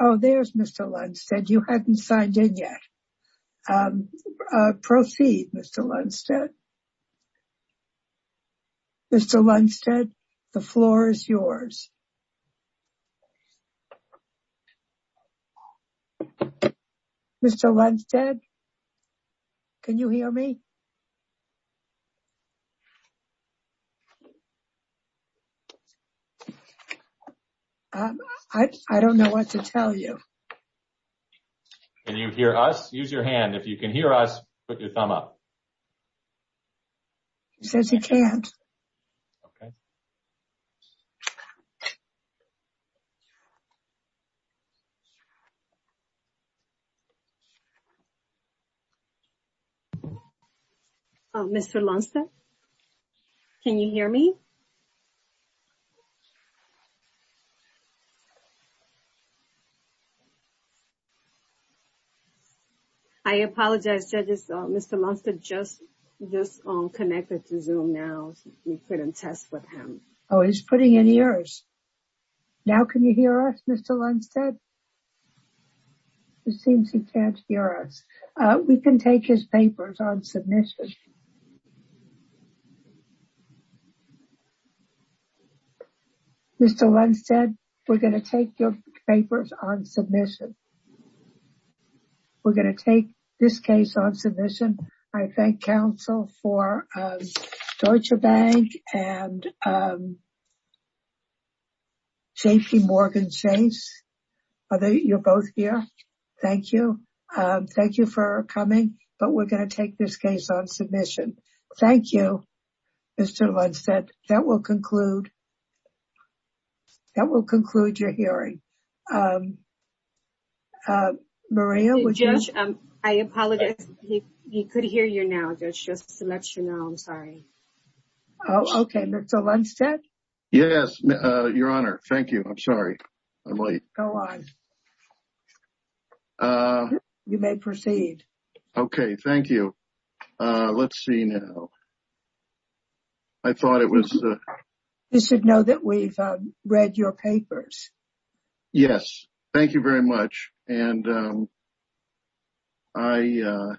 Oh, there's Mr. Lundstedt. You hadn't signed in yet. Proceed, Mr. Lundstedt. Mr. Lundstedt, the floor is yours. Mr. Lundstedt, can you hear me? I don't know what to tell you. Can you hear us? Use your hand. If you can hear us, put your thumb up. He says he can't. Okay. Mr. Lundstedt, can you hear me? I apologize, judges. Mr. Lundstedt just connected to Zoom now. We couldn't test with him. Oh, he's putting in ears. Now can you hear us, Mr. Lundstedt? It seems he can't hear us. We can take his papers on submission. Mr. Lundstedt, we're going to take your papers on submission. We're going to take this case on submission. I thank counsel for Deutsche Bank and JP Morgan Chase. You're both here. Thank you. Thank you for coming. But we're going to take this case on submission. Thank you, Mr. Lundstedt. That will conclude your hearing. Maria, would you? I apologize. He could hear you now, Judge, just to let you know. I'm sorry. Okay. Mr. Lundstedt? Yes, Your Honor. Thank you. I'm sorry. I'm late. Go on. You may proceed. Okay. Thank you. Let's see now. I thought it was. You should know that we've read your papers. Yes. Thank you very much. And I.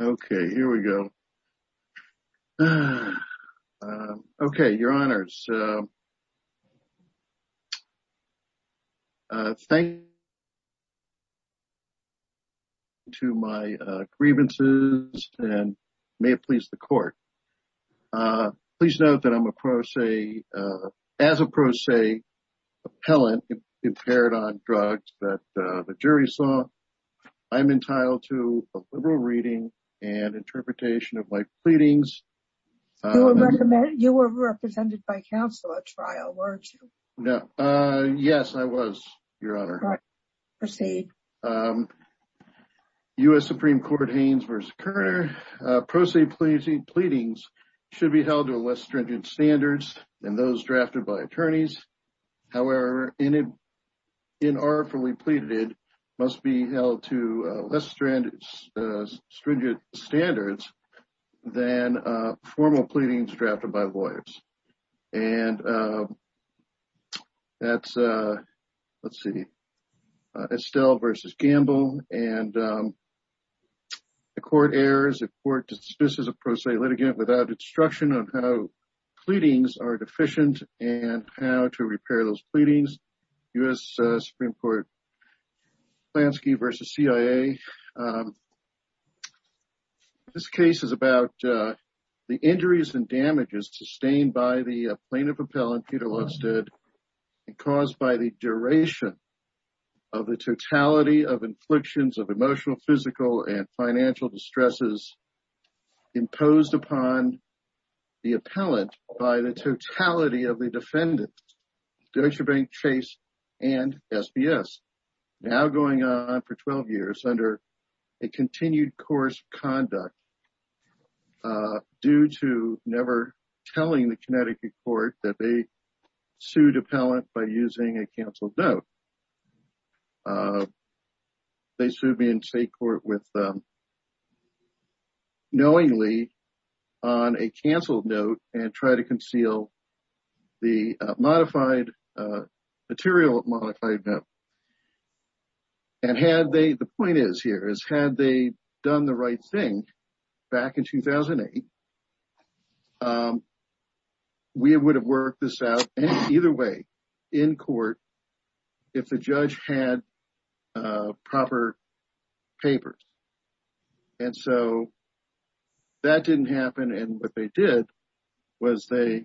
Okay, here we go. Okay, Your Honors. Thank you for listening to my grievances and may it please the court. Please note that I'm a pro se, as a pro se appellant impaired on drugs that the jury saw. I'm entitled to a liberal reading and interpretation of my pleadings. You were represented by counsel at trial, weren't you? No. Yes, I was, Your Honor. Proceed. U.S. Supreme Court Haynes v. Kerner, pro se pleadings should be held to less stringent standards than those drafted by attorneys. However, inorderfully pleaded must be held to less stringent standards than formal pleadings drafted by lawyers. And that's, let's see, Estelle v. Gamble. And the court errs if court dismisses a pro se litigant without instruction on how pleadings are deficient and how to repair those pleadings. U.S. Supreme Court Klansky v. CIA. This case is about the injuries and damages sustained by the plaintiff appellant, Peter Lovestead, caused by the duration of the totality of inflictions of emotional, physical, and financial distresses imposed upon the appellant by the totality of the defendant, Deutsche Bank, Chase, and SBS, now going on for 12 years under a continued course of conduct due to never telling the Connecticut court that they sued appellant by using a canceled note. They sued me in state court with knowingly on a canceled note and try to conceal the modified material, modified note. And had they, the point is here is had they done the right thing back in 2008, we would have worked this out either way in court. If the judge had proper papers. And so that didn't happen. And what they did was they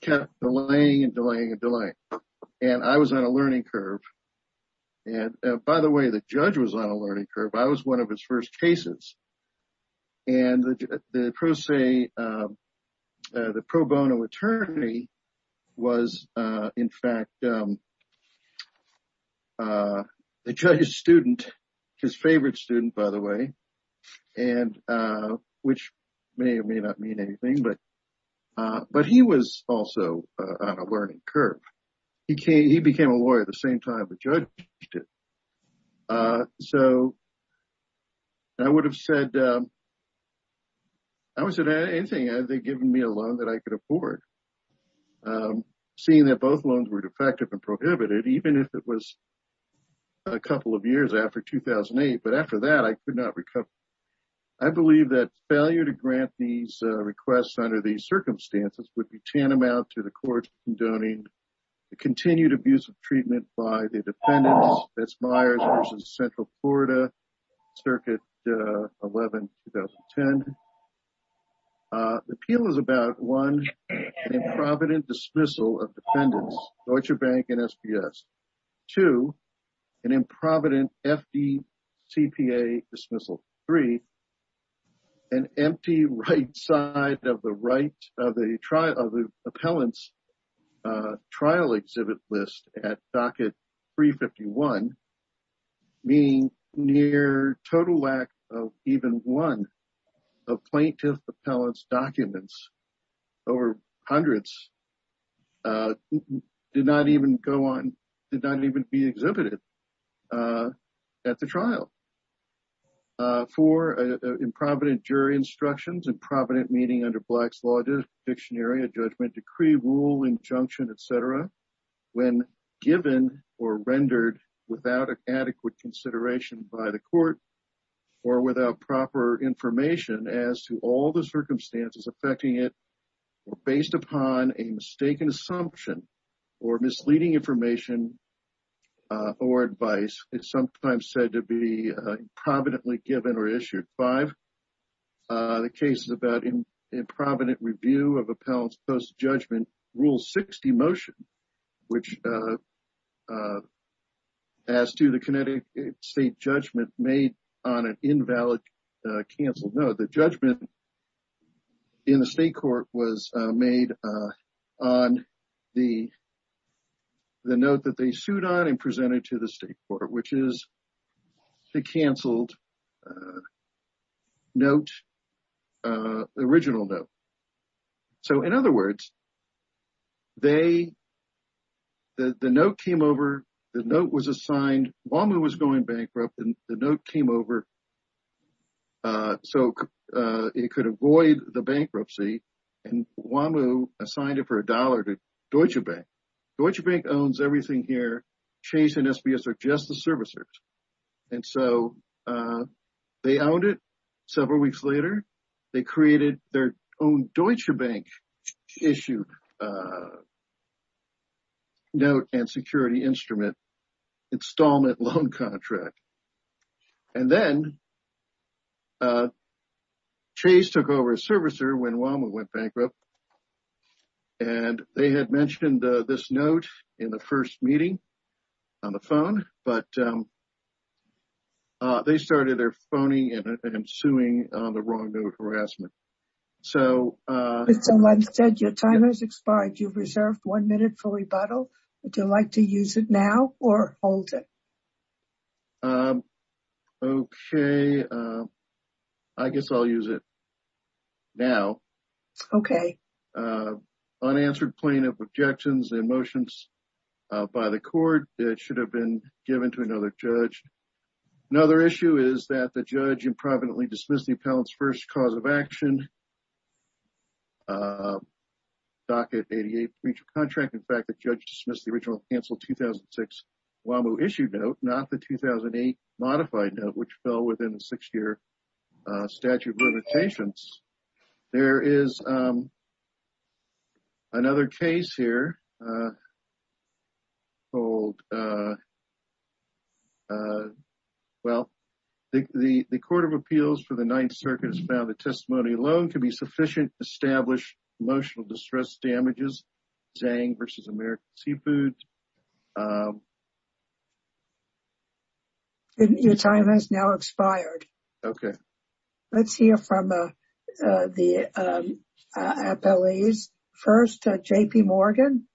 kept delaying and delaying and delaying. And I was on a learning curve. And by the way, the judge was on a learning curve. I was one of his first cases. And the pro bono attorney was, in fact, the judge's student, his favorite student, by the way, and which may or may not mean anything, but he was also on a learning curve. He became a lawyer at the same time the judge did. So, I would have said, I would say anything. They've given me a loan that I could afford. Seeing that both loans were defective and prohibited, even if it was a couple of years after 2008. But after that, I could not recover. I believe that failure to grant these requests under these circumstances would be tantamount to the court donating the continued abuse of treatment by the defendant. That's Myers versus Central Florida, Circuit 11, 2010. The appeal is about, one, an improvident dismissal of defendants, Deutsche Bank and SPS. Two, an improvident FDCPA dismissal. Three, an empty right side of the appellant's trial exhibit list at Docket 351, meaning near total lack of even one of plaintiff appellant's documents over hundreds did not even go on, did not even be exhibited at the trial. Four, improvident jury instructions, improvident meaning under Black's Law Dictionary, a judgment decree, rule, injunction, etc. When given or rendered without adequate consideration by the court or without proper information as to all the circumstances affecting it, or based upon a mistaken assumption or misleading information or advice, it's sometimes said to be improvidently given or issued. The case is about improvident review of appellant's post-judgment Rule 60 motion, which as to the Connecticut state judgment made on an invalid canceled note. The judgment in the state court was made on the note that they sued on and presented to the state court, which is the canceled note, the original note. So, in other words, the note came over, the note was assigned, Wamuu was going bankrupt, and the note came over so it could avoid the bankruptcy, and Wamuu assigned it for a dollar to Deutsche Bank. Deutsche Bank owns everything here. Chase and SBS are just the servicers. And so they owned it. Several weeks later, they created their own Deutsche Bank issued note and security instrument installment loan contract. And then Chase took over as servicer when Wamuu went bankrupt. And they had mentioned this note in the first meeting on the phone, but they started their phoning and suing on the wrong note harassment. Someone said your time has expired. You've reserved one minute for rebuttal. Would you like to use it now or hold it? Okay, I guess I'll use it now. Okay. Unanswered plaintiff objections and motions by the court. It should have been given to another judge. Another issue is that the judge improvidently dismissed the appellant's first cause of action, Docket 88 breach of contract. In fact, the judge dismissed the original canceled 2006 Wamuu issued note, not the 2008 modified note, which fell within a six-year statute of limitations. There is another case here. Well, the Court of Appeals for the Ninth Circuit has found that testimony alone can be sufficient to establish emotional distress damages, Zhang versus American Seafood. Your time has now expired. Okay. Let's hear from the appellees. First, J.P. Morgan.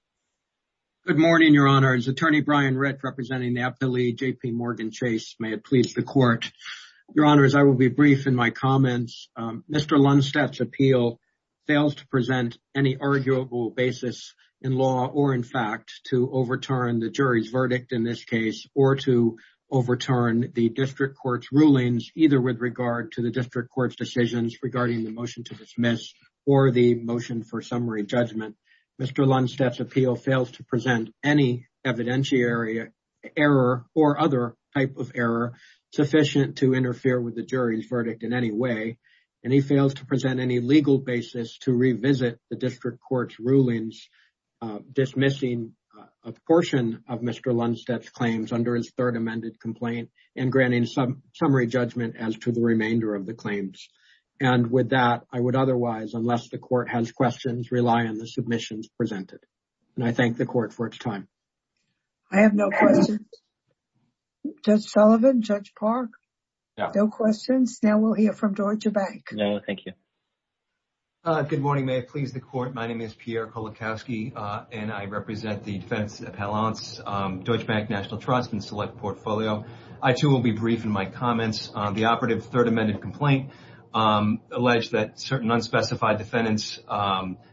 Good morning, Your Honors. Attorney Brian Ritt representing the appellee, J.P. Morgan Chase. May it please the court. Your Honors, I will be brief in my comments. Mr. Lundstedt's appeal fails to present any arguable basis in law or in fact to overturn the jury's verdict in this case or to overturn the district court's rulings, either with regard to the district court's decisions regarding the motion to dismiss or the motion for summary judgment. Mr. Lundstedt's appeal fails to present any evidentiary error or other type of error sufficient to interfere with the jury's verdict in any way, and he fails to present any legal basis to revisit the district court's rulings dismissing a portion of Mr. Lundstedt's claims under his third amended complaint and granting summary judgment as to the remainder of the claims. And with that, I would otherwise, unless the court has questions, rely on the submissions presented. And I thank the court for its time. I have no questions. Judge Sullivan, Judge Park, no questions. Now we'll hear from Deutsche Bank. No, thank you. Good morning. May it please the court. My name is Pierre Kolakowski, and I represent the defense appellants, Deutsche Bank National Trust and Select Portfolio. I too will be brief in my comments on the operative third amended complaint alleged that certain unspecified defendants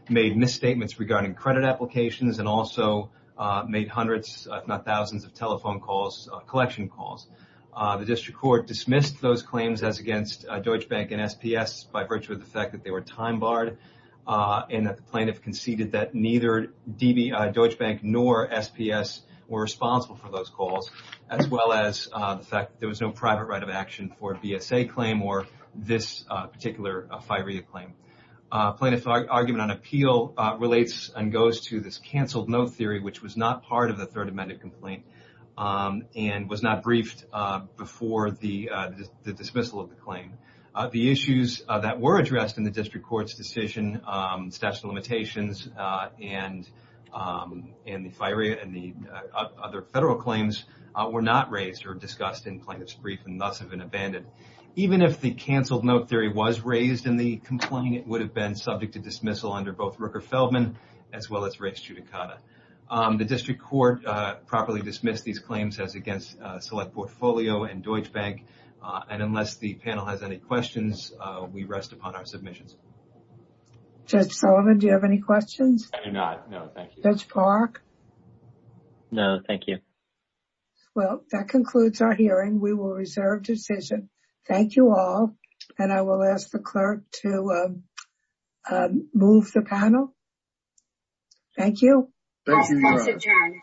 made misstatements regarding credit applications and also made hundreds, if not thousands of telephone calls, collection calls. The district court dismissed those claims as against Deutsche Bank and SPS by virtue of the fact that they were time barred and that the plaintiff conceded that neither Deutsche Bank nor SPS were responsible for those calls, as well as the fact that there was no private right of action for a BSA claim or this particular FIREA claim. Plaintiff's argument on appeal relates and goes to this canceled note theory, which was not part of the third amended complaint and was not briefed before the dismissal of the claim. The issues that were addressed in the district court's decision, statute of limitations and the FIREA and the other federal claims were not raised or discussed in plaintiff's brief and thus have been abandoned. Even if the canceled note theory was raised in the complaint, it would have been subject to dismissal under both Rooker-Feldman as well as race judicata. The district court properly dismissed these claims as against Select Portfolio and Deutsche Bank. And unless the panel has any questions, we rest upon our submissions. Judge Sullivan, do you have any questions? I do not. No, thank you. Judge Park? No, thank you. Well, that concludes our hearing. We will reserve decision. Thank you all. And I will ask the clerk to move the panel. Thank you. Thank you.